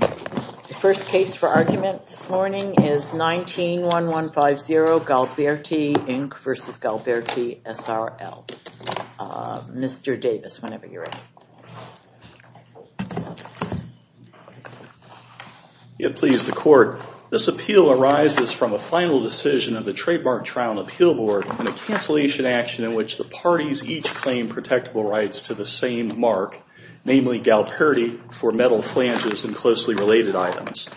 The first case for argument this morning is 19-1150 Galperti, Inc. v. Galperti, S.r.l. Mr. Davis, whenever you're ready. Please, the Court. This appeal arises from a final decision of the Trademark Trial and Appeal Board and a cancellation action in which the parties each claim protectable rights to the same mark, namely Galperti, for metal flanges and closely related items.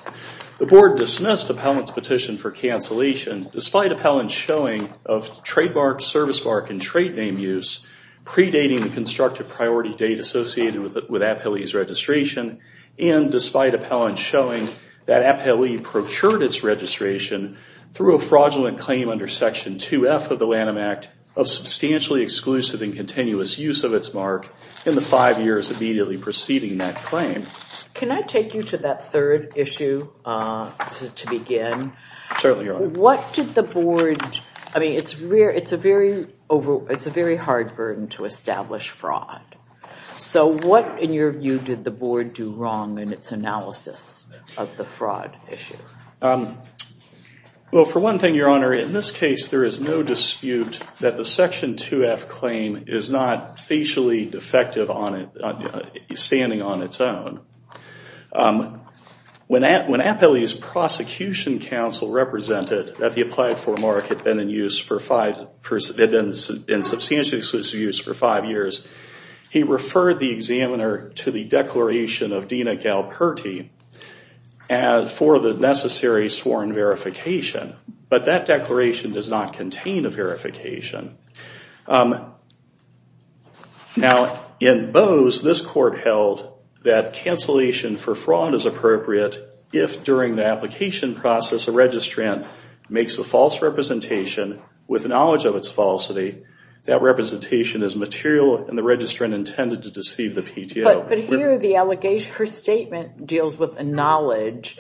The Board dismissed Appellant's petition for cancellation, despite Appellant's showing of trademark, service mark, and trade name use predating the constructive priority date associated with Appellee's registration and despite Appellant's showing that Appellee procured its registration through a fraudulent claim under Section 2F of the Lanham Act of substantially exclusive and continuous use of its mark in the five years immediately preceding that claim. Can I take you to that third issue to begin? Certainly, Your Honor. What did the Board, I mean, it's a very hard burden to establish fraud. So what, in your view, did the Board do wrong in its analysis of the fraud issue? Well, for one thing, Your Honor, in this case there is no dispute that the Section 2F claim is not facially defective standing on its own. When Appellee's prosecution counsel represented that the applied for mark had been in substantially exclusive use for five years, he referred the examiner to the declaration of Dina Galperti for the necessary sworn verification. But that declaration does not contain a verification. Now, in Bose, this court held that cancellation for fraud is appropriate if during the application process a registrant makes a false representation with knowledge of its falsity, that representation is material and the registrant intended to deceive the PTO. But here the allegation, her statement deals with a knowledge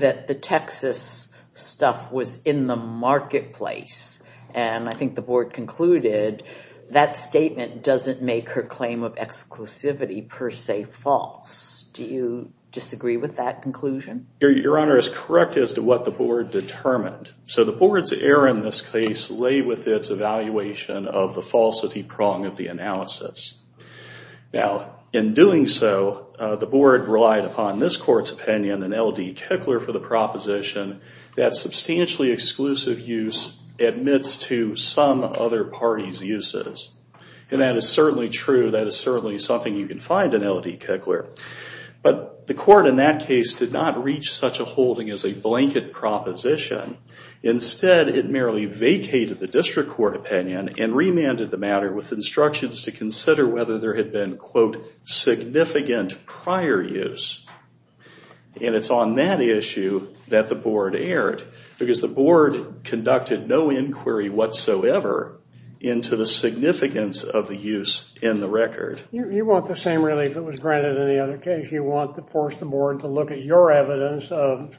that the Texas stuff was in the marketplace. And I think the Board concluded that statement doesn't make her claim of exclusivity per se false. Do you disagree with that conclusion? Your Honor is correct as to what the Board determined. So the Board's error in this case lay with its evaluation of the falsity prong of the analysis. Now, in doing so, the Board relied upon this court's opinion and L.D. Kickler for the proposition that substantially exclusive use admits to some other party's uses. And that is certainly true. That is certainly something you can find in L.D. Kickler. But the court in that case did not reach such a holding as a blanket proposition. Instead, it merely vacated the district court opinion and remanded the matter with instructions to consider whether there had been, quote, significant prior use. And it's on that issue that the Board erred because the Board conducted no inquiry whatsoever into the significance of the use in the record. You want the same relief that was granted in the other case. You want to force the Board to look at your evidence of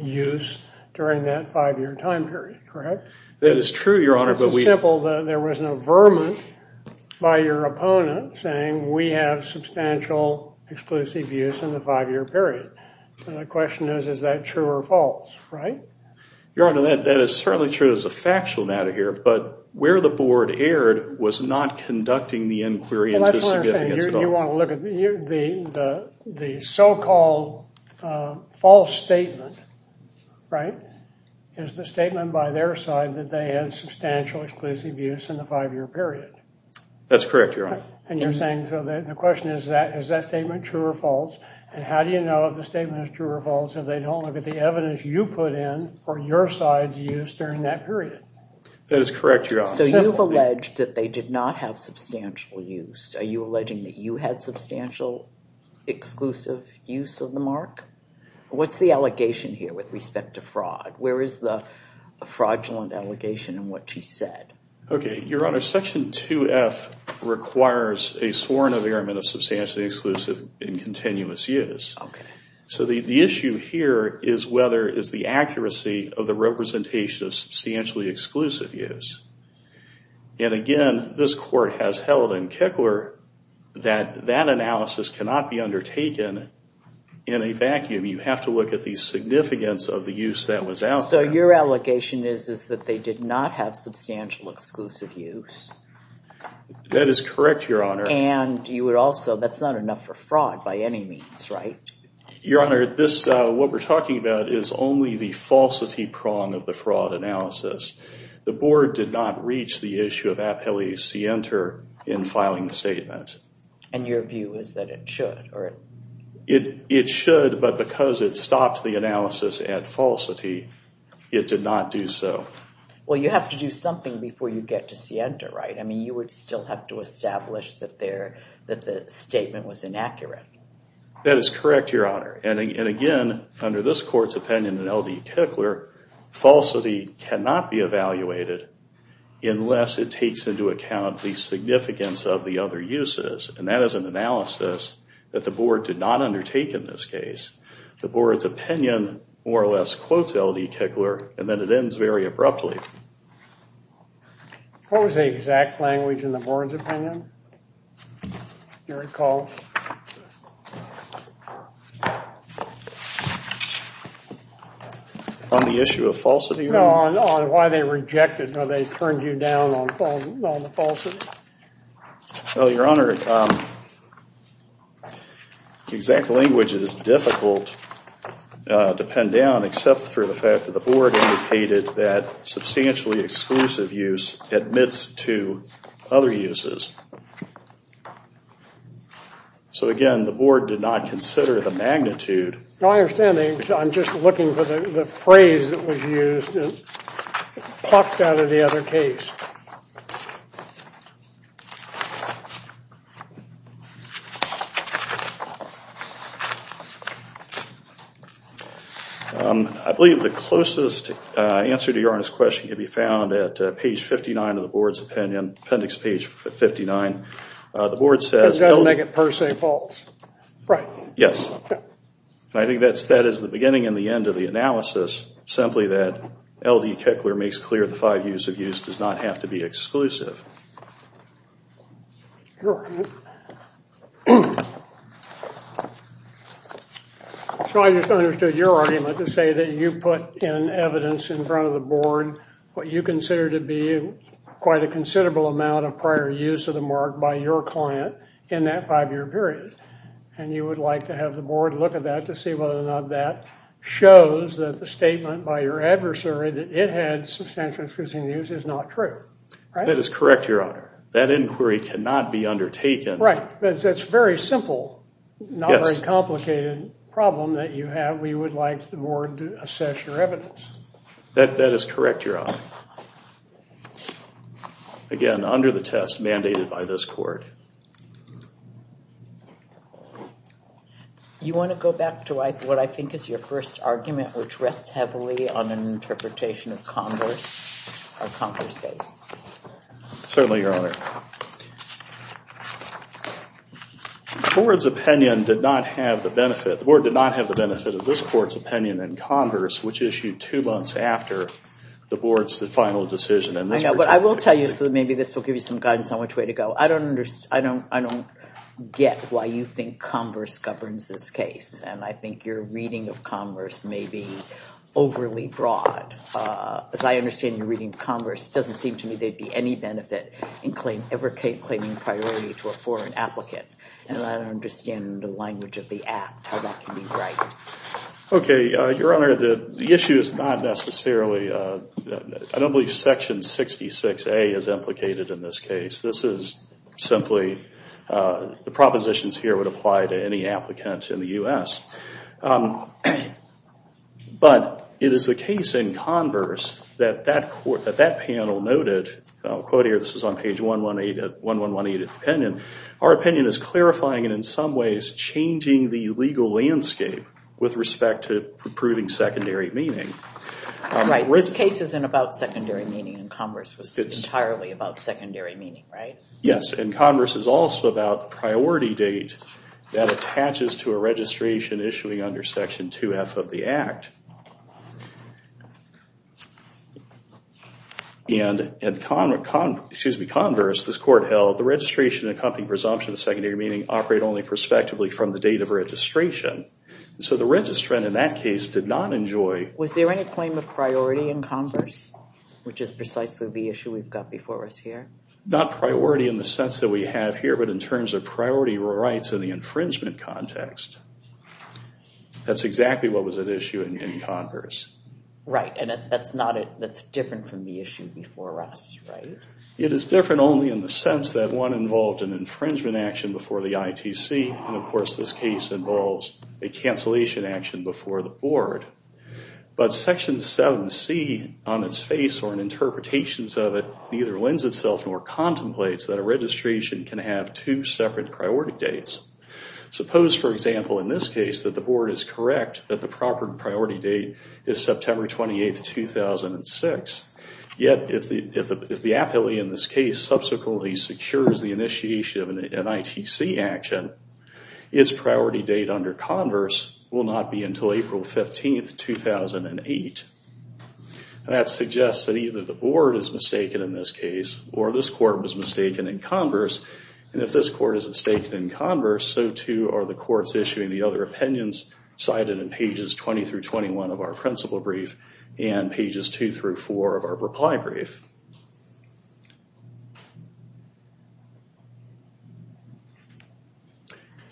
use during that five-year time period, correct? That is true, Your Honor. It's simple. There was no vermin by your opponent saying, we have substantial exclusive use in the five-year period. The question is, is that true or false, right? Your Honor, that is certainly true as a factual matter here. But where the Board erred was not conducting the inquiry into the significance at all. You want to look at the so-called false statement, right, is the statement by their side that they had substantial exclusive use in the five-year period. That's correct, Your Honor. And you're saying, so the question is, is that statement true or false? And how do you know if the statement is true or false if they don't look at the evidence you put in for your side's use during that period? That is correct, Your Honor. So you've alleged that they did not have substantial use. Are you alleging that you had substantial exclusive use of the mark? What's the allegation here with respect to fraud? Where is the fraudulent allegation in what she said? Okay. Your Honor, Section 2F requires a sworn affairment of substantially exclusive and continuous use. Okay. So the issue here is whether is the accuracy of the representation of substantially exclusive use. And again, this Court has held in Kickler that that analysis cannot be undertaken in a vacuum. You have to look at the significance of the use that was out there. So your allegation is that they did not have substantial exclusive use. That is correct, Your Honor. And you would also, that's not enough for fraud by any means, right? Your Honor, what we're talking about is only the falsity prong of the fraud analysis. The Board did not reach the issue of appellee of scienter in filing the statement. And your view is that it should? It should, but because it stopped the analysis at falsity, it did not do so. Well, you have to do something before you get to scienter, right? I mean, you would still have to establish that the statement was inaccurate. That is correct, Your Honor. And again, under this Court's opinion in L.D. Kickler, falsity cannot be evaluated unless it takes into account the significance of the other uses. And that is an analysis that the Board did not undertake in this case. The Board's opinion more or less quotes L.D. Kickler, and then it ends very abruptly. What was the exact language in the Board's opinion? Do you recall? On the issue of falsity? No, no, on why they rejected, or they turned you down on the falsity? Well, Your Honor, the exact language is difficult to pin down except for the fact that the Board indicated that substantially exclusive use admits to other uses. So again, the Board did not consider the magnitude. No, I understand. I'm just looking for the phrase that was used. It popped out of the other case. I believe the closest answer to Your Honor's question can be found at page 59 of the Board's opinion, appendix page 59. The Board says L.D. It doesn't make it per se false. Right. Yes. And I think that is the beginning and the end of the analysis, simply that L.D. Kickler makes clear the five years of use does not have to be exclusive. So I just understood your argument to say that you put in evidence in front of the Board what you consider to be quite a considerable amount of prior use of the mark by your client in that five-year period. And you would like to have the Board look at that to see whether or not that shows that the statement by your adversary that it had substantial exclusive use is not true. That is correct, Your Honor. That inquiry cannot be undertaken. Right. That's a very simple, not very complicated problem that you have. We would like the Board to assess your evidence. That is correct, Your Honor. Again, under the test mandated by this court. You want to go back to what I think is your first argument, which rests heavily on an interpretation of Converse or Converse case? Certainly, Your Honor. The Board's opinion did not have the benefit. The Board did not have the benefit of this court's opinion in Converse, which issued two months after the Board's final decision. I know, but I will tell you, so maybe this will give you some guidance on which way to go. I don't get why you think Converse governs this case. And I think your reading of Converse may be overly broad. As I understand your reading of Converse, it doesn't seem to me there'd be any benefit in ever claiming priority to a foreign applicant. And I don't understand the language of the act, how that can be right. OK, Your Honor. The issue is not necessarily, I don't believe section 66A is implicated in this case. This is simply the propositions here would apply to any applicant in the US. But it is the case in Converse that that panel noted, I'll quote here, this is on page 118 of the opinion, our opinion is clarifying and in some ways changing the legal landscape with respect to proving secondary meaning. Right, this case isn't about secondary meaning and Converse was entirely about secondary meaning, right? Yes, and Converse is also about the priority date that attaches to a registration issuing under section 2F of the act. And at Converse, this court held, the registration accompanying presumption of secondary meaning operate only prospectively from the date of registration. So the registrant in that case did not enjoy. Was there any claim of priority in Converse, which is precisely the issue we've got before us here? Not priority in the sense that we have here, but in terms of priority rights in the infringement context. That's exactly what was at issue in Converse. Right, and that's not it. That's different from the issue before us, right? It is different only in the sense that one involved an infringement action before the ITC and of course this case involves a cancellation action before the board. But section 7C on its face or in interpretations of it neither lends itself nor contemplates that a registration can have two separate priority dates. Suppose, for example, in this case that the board is correct that the proper priority date is September 28, 2006. Yet if the appellee in this case subsequently secures the initiation of an ITC action, its priority date under Converse will not be until April 15, 2008. That suggests that either the board is mistaken in this case or this court was mistaken in Converse. And if this court is mistaken in Converse, so too are the courts issuing the other opinions cited in pages 20 through 21 of our principle brief and pages two through four of our reply brief.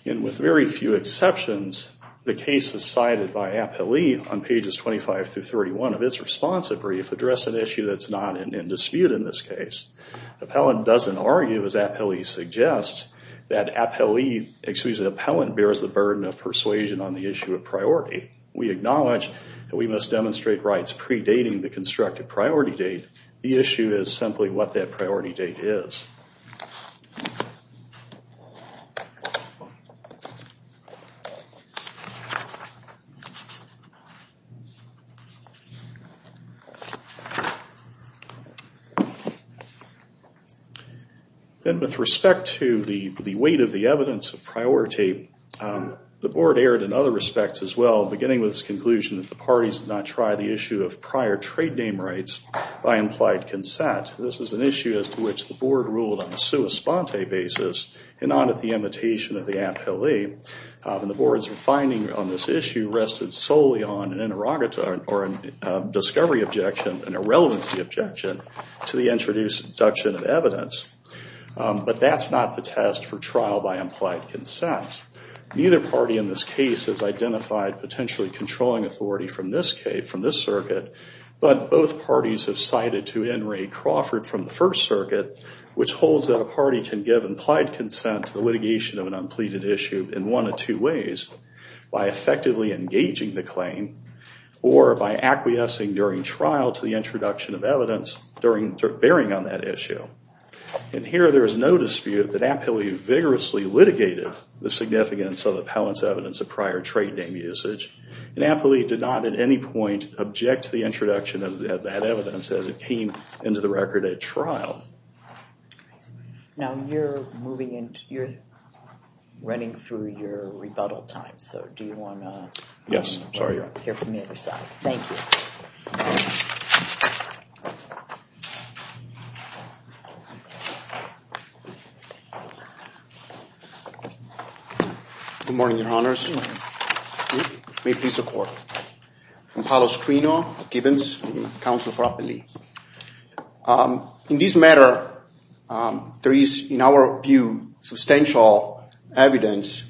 And with very few exceptions, the cases cited by appellee on pages 25 through 31 of its response brief address an issue that's not in dispute in this case. Appellant doesn't argue as appellee suggests that appellant bears the burden of persuasion on the issue of priority. We acknowledge that we must demonstrate rights predating the constructed priority date. The issue is simply what that priority date is. Next slide, please. Then with respect to the weight of the evidence of priority, the board erred in other respects as well, beginning with its conclusion that the parties did not try the issue of prior trade name rights by implied consent. This is an issue as to which the board ruled on a sua sponte basis and not at the invitation of the appellee. And the board's finding on this issue rested solely on an interrogatory or a discovery objection, an irrelevancy objection to the introduction of evidence. But that's not the test for trial by implied consent. Neither party in this case has identified potentially controlling authority from this circuit. But both parties have cited to Henry Crawford from the First Circuit, which holds that a party can give implied consent to the litigation of an unpleaded issue in one of two ways, by effectively engaging the claim or by acquiescing during trial to the introduction of evidence during bearing on that issue. And here there is no dispute that appellee vigorously litigated the significance of the appellant's evidence of prior trade name usage. And appellee did not at any point object to the introduction of that evidence as it came into the record at trial. Now you're running through your rebuttal time. So do you want to hear from the other side? Thank you. Good morning, your honors. May it please the court. I'm Paolo Strino of Gibbons, counsel for appellee. In this matter, there is, in our view, substantial evidence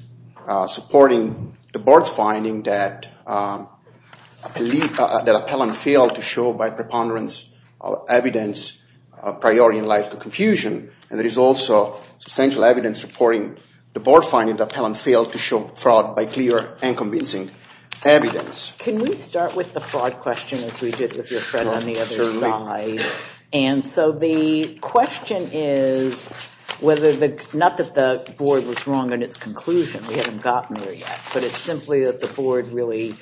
supporting the board's finding that appellant failed to show by preponderance evidence prior in light of confusion. And there is also substantial evidence supporting the board finding that appellant failed to show fraud by clear and convincing evidence. Can we start with the fraud question as we did with your friend on the other side? And so the question is whether the, not that the board was wrong in its conclusion. We haven't gotten there yet. But it's simply that the board really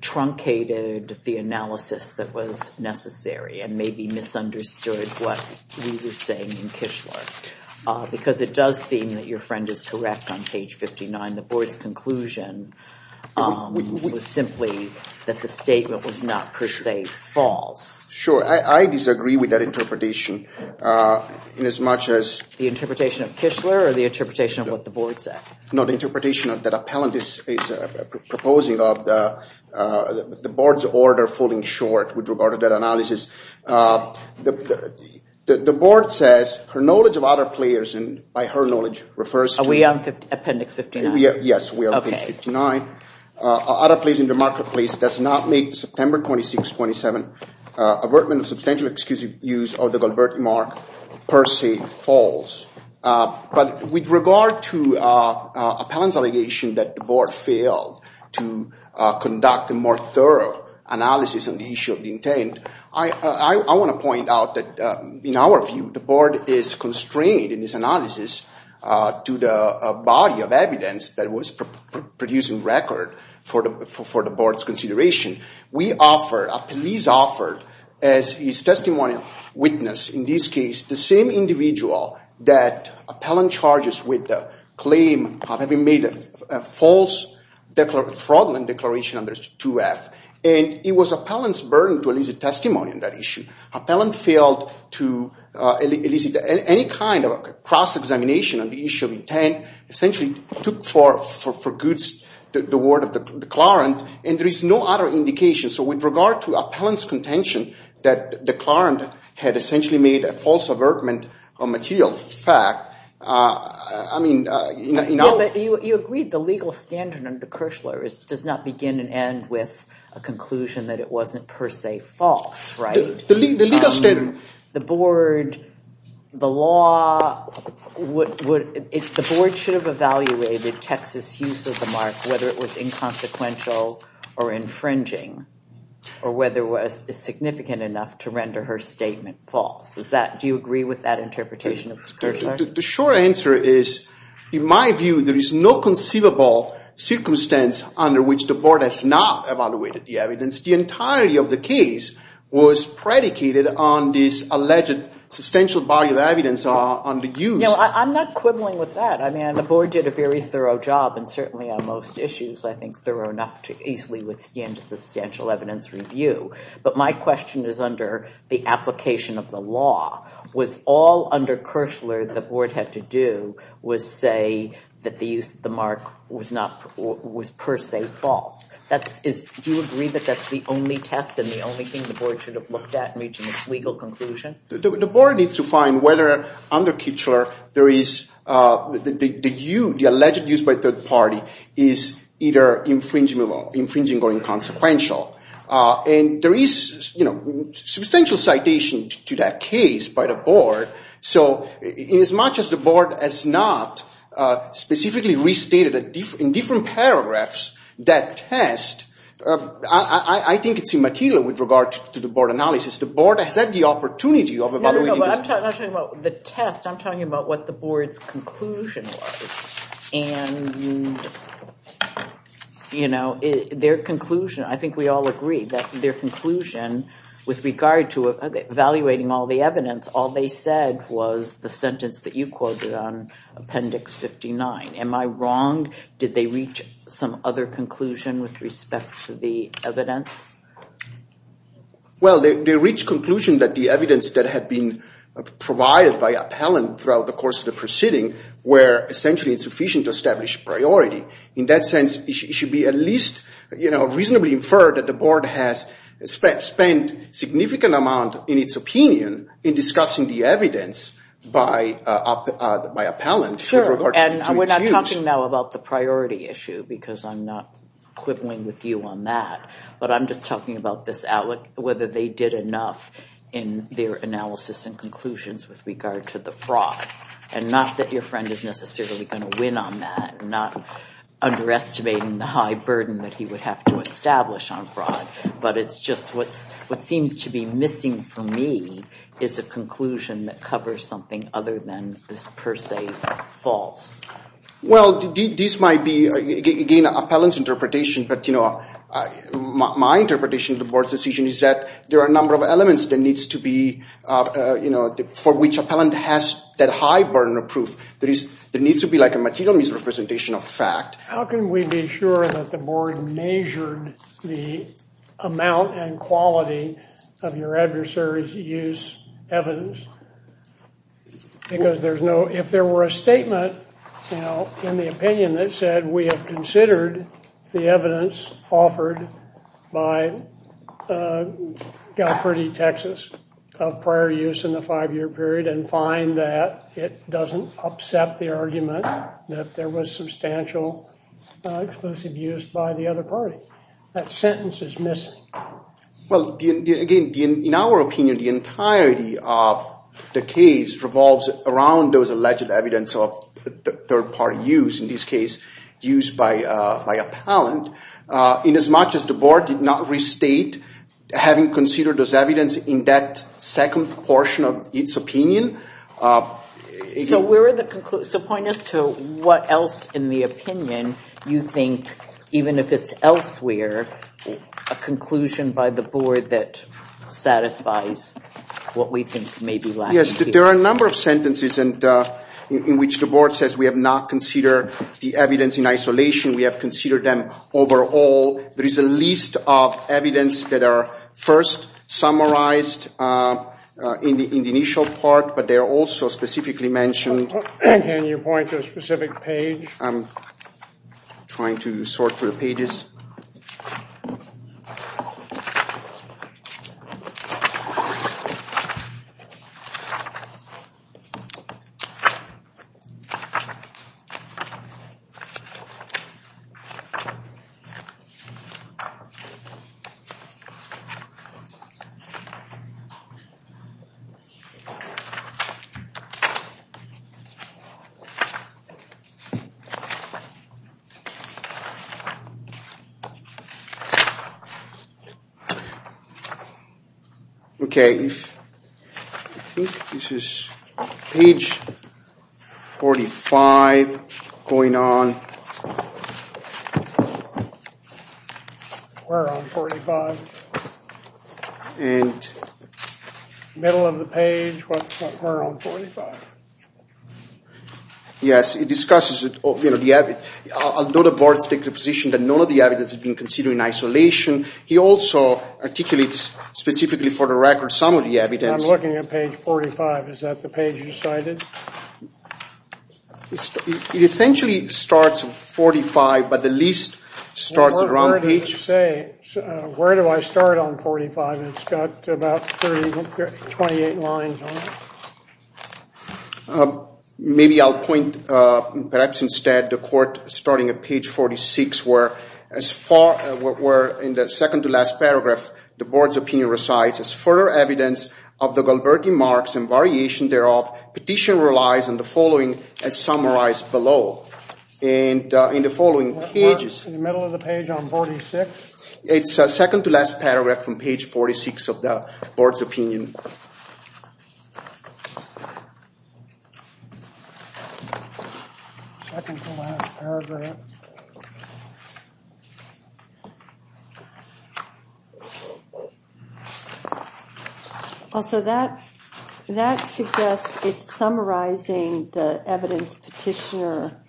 truncated the analysis that was necessary and maybe misunderstood what we were saying in Kishler. Because it does seem that your friend is correct on page 59. The board's conclusion was simply that the statement was not per se false. Sure. I disagree with that interpretation in as much as. The interpretation of Kishler or the interpretation of what the board said? No, the interpretation of that appellant is proposing of the board's order falling short with regard to that analysis. The board says her knowledge of other players and by her knowledge refers to. Are we on appendix 59? Yes, we are on appendix 59. Other plays in the marketplace does not make September 26, 27, avertment of substantial excusive use of the Gilbert remark per se false. But with regard to appellant's allegation that the board failed to conduct a more thorough analysis on the issue of the intent, I want to point out that in our view, the board is constrained in this analysis to the body of evidence that was producing record for the board's consideration. We offer a police offer as his testimonial witness, in this case, the same individual that appellant charges with the claim of having made a false fraudulent declaration under 2F. And it was appellant's burden to elicit testimony on that issue. Appellant failed to elicit any kind of cross-examination on the issue of intent, essentially took for goods the word of the clerent, and there is no other indication. So with regard to appellant's contention that the clerent had essentially made a false avertment on material fact, I mean, you know. But you agreed the legal standard under Kirchler does not begin and end with a conclusion that it wasn't per se false, right? The legal standard. The board, the law, the board should have evaluated Texas' use of the mark, whether it was inconsequential or infringing, or whether it was significant enough to render her statement false. Do you agree with that interpretation of Kirchler? The short answer is, in my view, there is no conceivable circumstance under which the board has not evaluated the evidence. The entirety of the case was predicated on this alleged substantial body of evidence under use. You know, I'm not quibbling with that. I mean, the board did a very thorough job, and certainly on most issues, I think thorough enough to easily withstand a substantial evidence review. But my question is under the application of the law. Was all under Kirchler the board had to do was say that the use of the mark was per se false? Do you agree that that's the only test, and the only thing the board should have looked at in reaching its legal conclusion? The board needs to find whether under Kirchler there is the alleged use by a third party is either infringing or inconsequential. And there is substantial citation to that case by the board. So in as much as the board has not specifically restated in different paragraphs that test, I think it's immaterial with regard to the board analysis. The board has had the opportunity of evaluating this. No, no, no. I'm not talking about the test. I'm talking about what the board's conclusion was. And their conclusion, I think we all agree, their conclusion with regard to evaluating all the evidence, all they said was the sentence that you quoted on Appendix 59. Am I wrong? Did they reach some other conclusion with respect to the evidence? Well, they reached conclusion that the evidence that had been provided by appellant throughout the course of the proceeding were essentially insufficient to establish priority. In that sense, it should be at least reasonably inferred that the board has spent significant amount in its opinion in discussing the evidence by appellant. Sure, and we're not talking now about the priority issue because I'm not quibbling with you on that. But I'm just talking about whether they did enough in their analysis and conclusions with regard to the fraud. And not that your friend is necessarily going to win on that, not underestimating the high burden that he would have to establish on fraud. But it's just what seems to be missing for me is a conclusion that covers something other than this per se false. Well, this might be, again, appellant's interpretation, but my interpretation of the board's decision is that there are a number of elements for which appellant has that high burden of proof. There needs to be a material misrepresentation of fact. How can we be sure that the board measured the amount and quality of your adversary's use evidence? Because if there were a statement in the opinion that said, we have considered the evidence offered by Galperti, Texas, of prior use in the five-year period that there was substantial explosive use by the other party. That sentence is missing. Well, again, in our opinion, the entirety of the case revolves around those alleged evidence of third-party use, in this case, use by appellant. Inasmuch as the board did not restate having considered those evidence in that second portion of its opinion. So point us to what else in the opinion you think, even if it's elsewhere, a conclusion by the board that satisfies what we think may be lacking here. Yes, there are a number of sentences in which the board says we have not considered the evidence in isolation. We have considered them overall. There is a list of evidence that are first summarized in the initial part, but they are also specifically mentioned. Can you point to a specific page? I'm trying to sort through the pages. OK. I think this is page 45 going on. We're on 45. And this is page 45. Middle of the page. We're on 45. Yes, it discusses it. Although the board has taken the position that none of the evidence has been considered in isolation, he also articulates specifically for the record some of the evidence. I'm looking at page 45. Is that the page you decided? It essentially starts at 45, but the list starts at the wrong page. Where do I start on 45? It's got about 28 lines on it. Maybe I'll point, perhaps instead, the court starting at page 46, where in the second to last paragraph, the board's opinion recites, as further evidence of the Gilberti marks and variation thereof, petition relies on the following as summarized below. And in the following pages. We're in the middle of the page on 46. It's second to last paragraph from page 46 of the board's opinion. So that suggests it's summarizing the evidence petitioner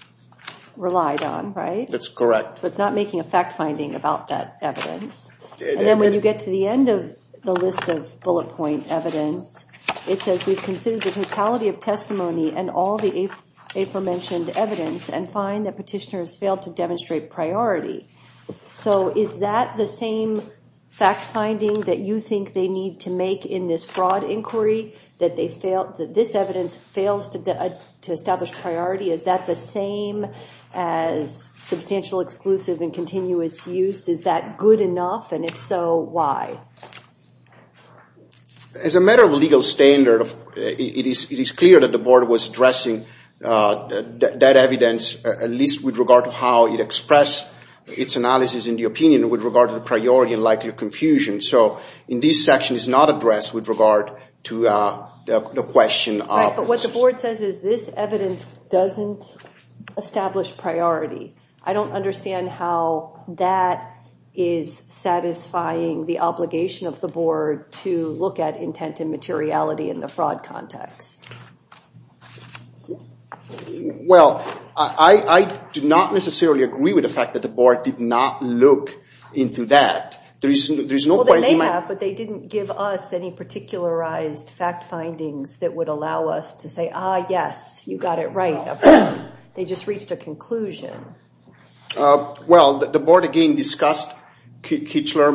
relied on, right? That's correct. So it's not making a fact finding about that evidence. And then when you get to the end of the list of bullet point evidence, it says, we've considered the totality of testimony and all the aforementioned evidence and find that petitioners failed to demonstrate priority. So is that the same fact finding that you think they need to make in this fraud inquiry, that this evidence fails to establish priority? Is that the same as substantial exclusive and continuous use? Is that good enough? And if so, why? As a matter of legal standard, it is clear that the board was addressing that evidence, at least with regard to how it expressed its analysis in the opinion with regard to the priority and likely confusion. So in this section, it's not addressed with regard to the question of. But what the board says is this evidence doesn't establish priority. I don't understand how that is satisfying the obligation of the board to look at intent and materiality in the fraud context. Well, I do not necessarily agree with the fact that the board did not look into that. There is no point in my. Well, they may have, but they didn't give us any particularized fact findings that would allow us to say, ah, yes, you got it right. They just reached a conclusion. Well, the board, again, discussed Kichler,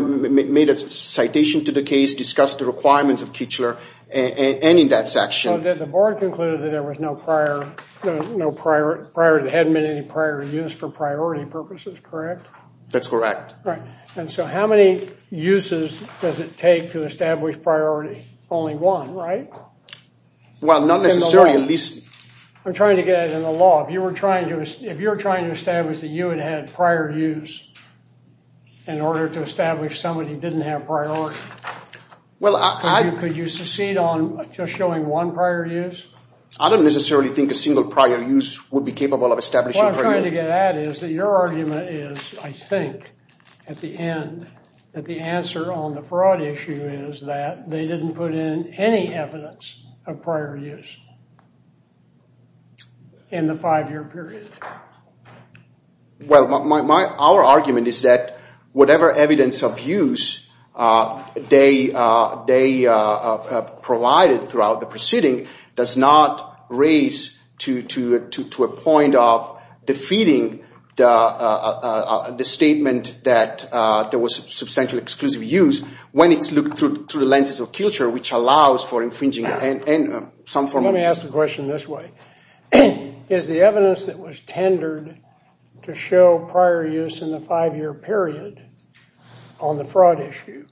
made a citation to the case, discussed the requirements of Kichler, and in that section. The board concluded that there was no prior, that there hadn't been any prior use for priority purposes, correct? That's correct. All right, and so how many uses does it take to establish priority? Only one, right? Well, not necessarily, at least. I'm trying to get it in the law. If you're trying to establish that you had had prior use in order to establish somebody didn't have priority, could you succeed on just showing one prior use? I don't necessarily think a single prior use would be capable of establishing priority. What I'm trying to get at is that your argument is, I think, at the end, that the answer on the fraud issue is that they didn't put in any evidence of prior use in the five-year period. Well, our argument is that whatever evidence of use they provided throughout the proceeding does not raise to a point of defeating the statement that there was substantial exclusive use when it's looked through the lenses of culture, which allows for infringing and some form of- Let me ask the question this way. Is the evidence that was tendered to show prior use in the five-year period on the fraud issue,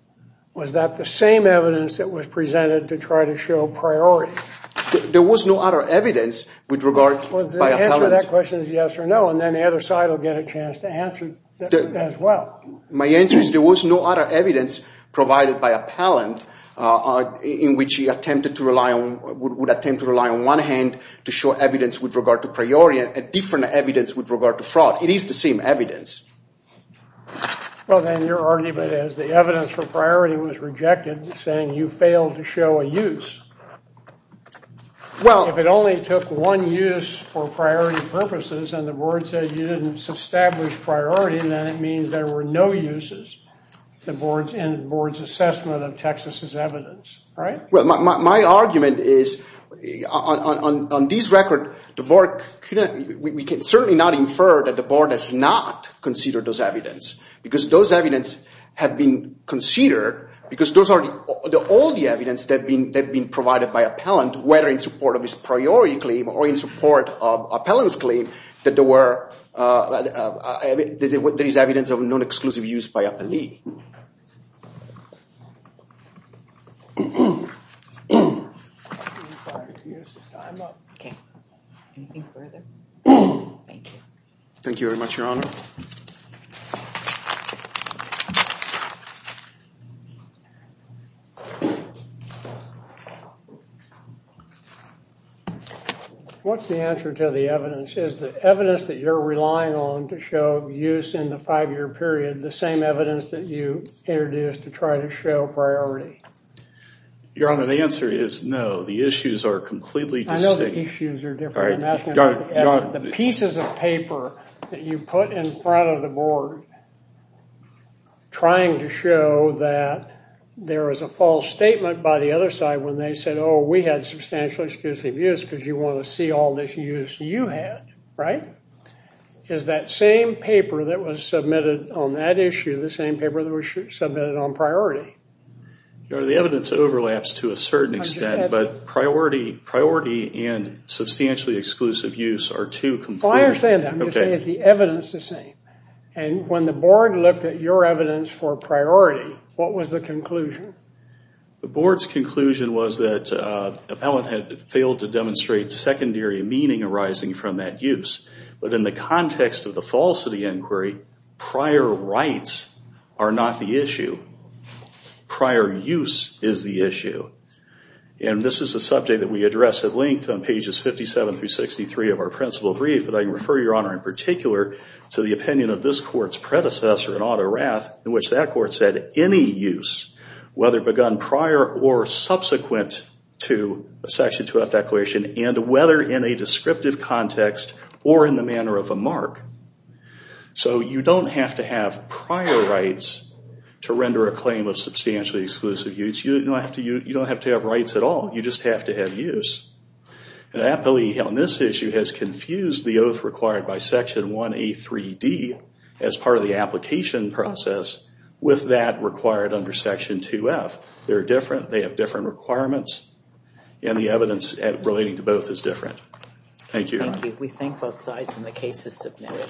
was that the same evidence that was presented to try to show priority? There was no other evidence with regard by appellant. The answer to that question is yes or no, and then the other side will get a chance to answer as well. My answer is there was no other evidence provided by appellant in which he would attempt to rely on one hand to show evidence with regard to priority and different evidence with regard to fraud. It is the same evidence. Well, then your argument is the evidence for priority was rejected saying you failed to show a use. Well- If it only took one use for priority purposes and the board said you didn't establish priority, then it means there were no uses in the board's assessment of Texas' evidence, right? Well, my argument is on this record, we can certainly not infer that the board has not considered those evidence because those evidence have been considered because those are all the evidence that have been provided by appellant, whether in support of his priority claim or in support of appellant's claim, that there is evidence of non-exclusive use by appellee. Thank you very much, Your Honor. Thank you. What's the answer to the evidence? Is the evidence that you're relying on to show use in the five-year period the same evidence that you introduced to try to show priority? Your Honor, the answer is no. The issues are completely distinct. I know the issues are different. The pieces of paper that you put in front of the board trying to show that there is a false statement by the other side when they said, oh, we had substantial exclusive use because you want to see all this use you had, right? Is that same paper that was submitted on that issue the same paper that was submitted on priority? Your Honor, the evidence overlaps to a certain extent, but priority and substantially exclusive use are two completely... Well, I understand that. I'm just saying is the evidence the same? When the board looked at your evidence for priority, what was the conclusion? The board's conclusion was that appellant had failed to demonstrate secondary meaning arising from that use. But in the context of the falsity inquiry, prior rights are not the issue. Prior use is the issue. And this is a subject that we address at length on pages 57 through 63 of our principal brief, but I refer, Your Honor, in particular to the opinion of this court's predecessor in auto wrath in which that court said any use, whether begun prior or subsequent to a Section 2F declaration and whether in a descriptive context or in the manner of a mark. So you don't have to have prior rights to render a claim of substantially exclusive use. You don't have to have rights at all. You just have to have use. And appellee on this issue has confused the oath required by Section 1A3D as part of the application process with that required under Section 2F. They're different. They have different requirements. And the evidence relating to both is different. Thank you, Your Honor. Thank you. We thank both sides, and the case is submitted.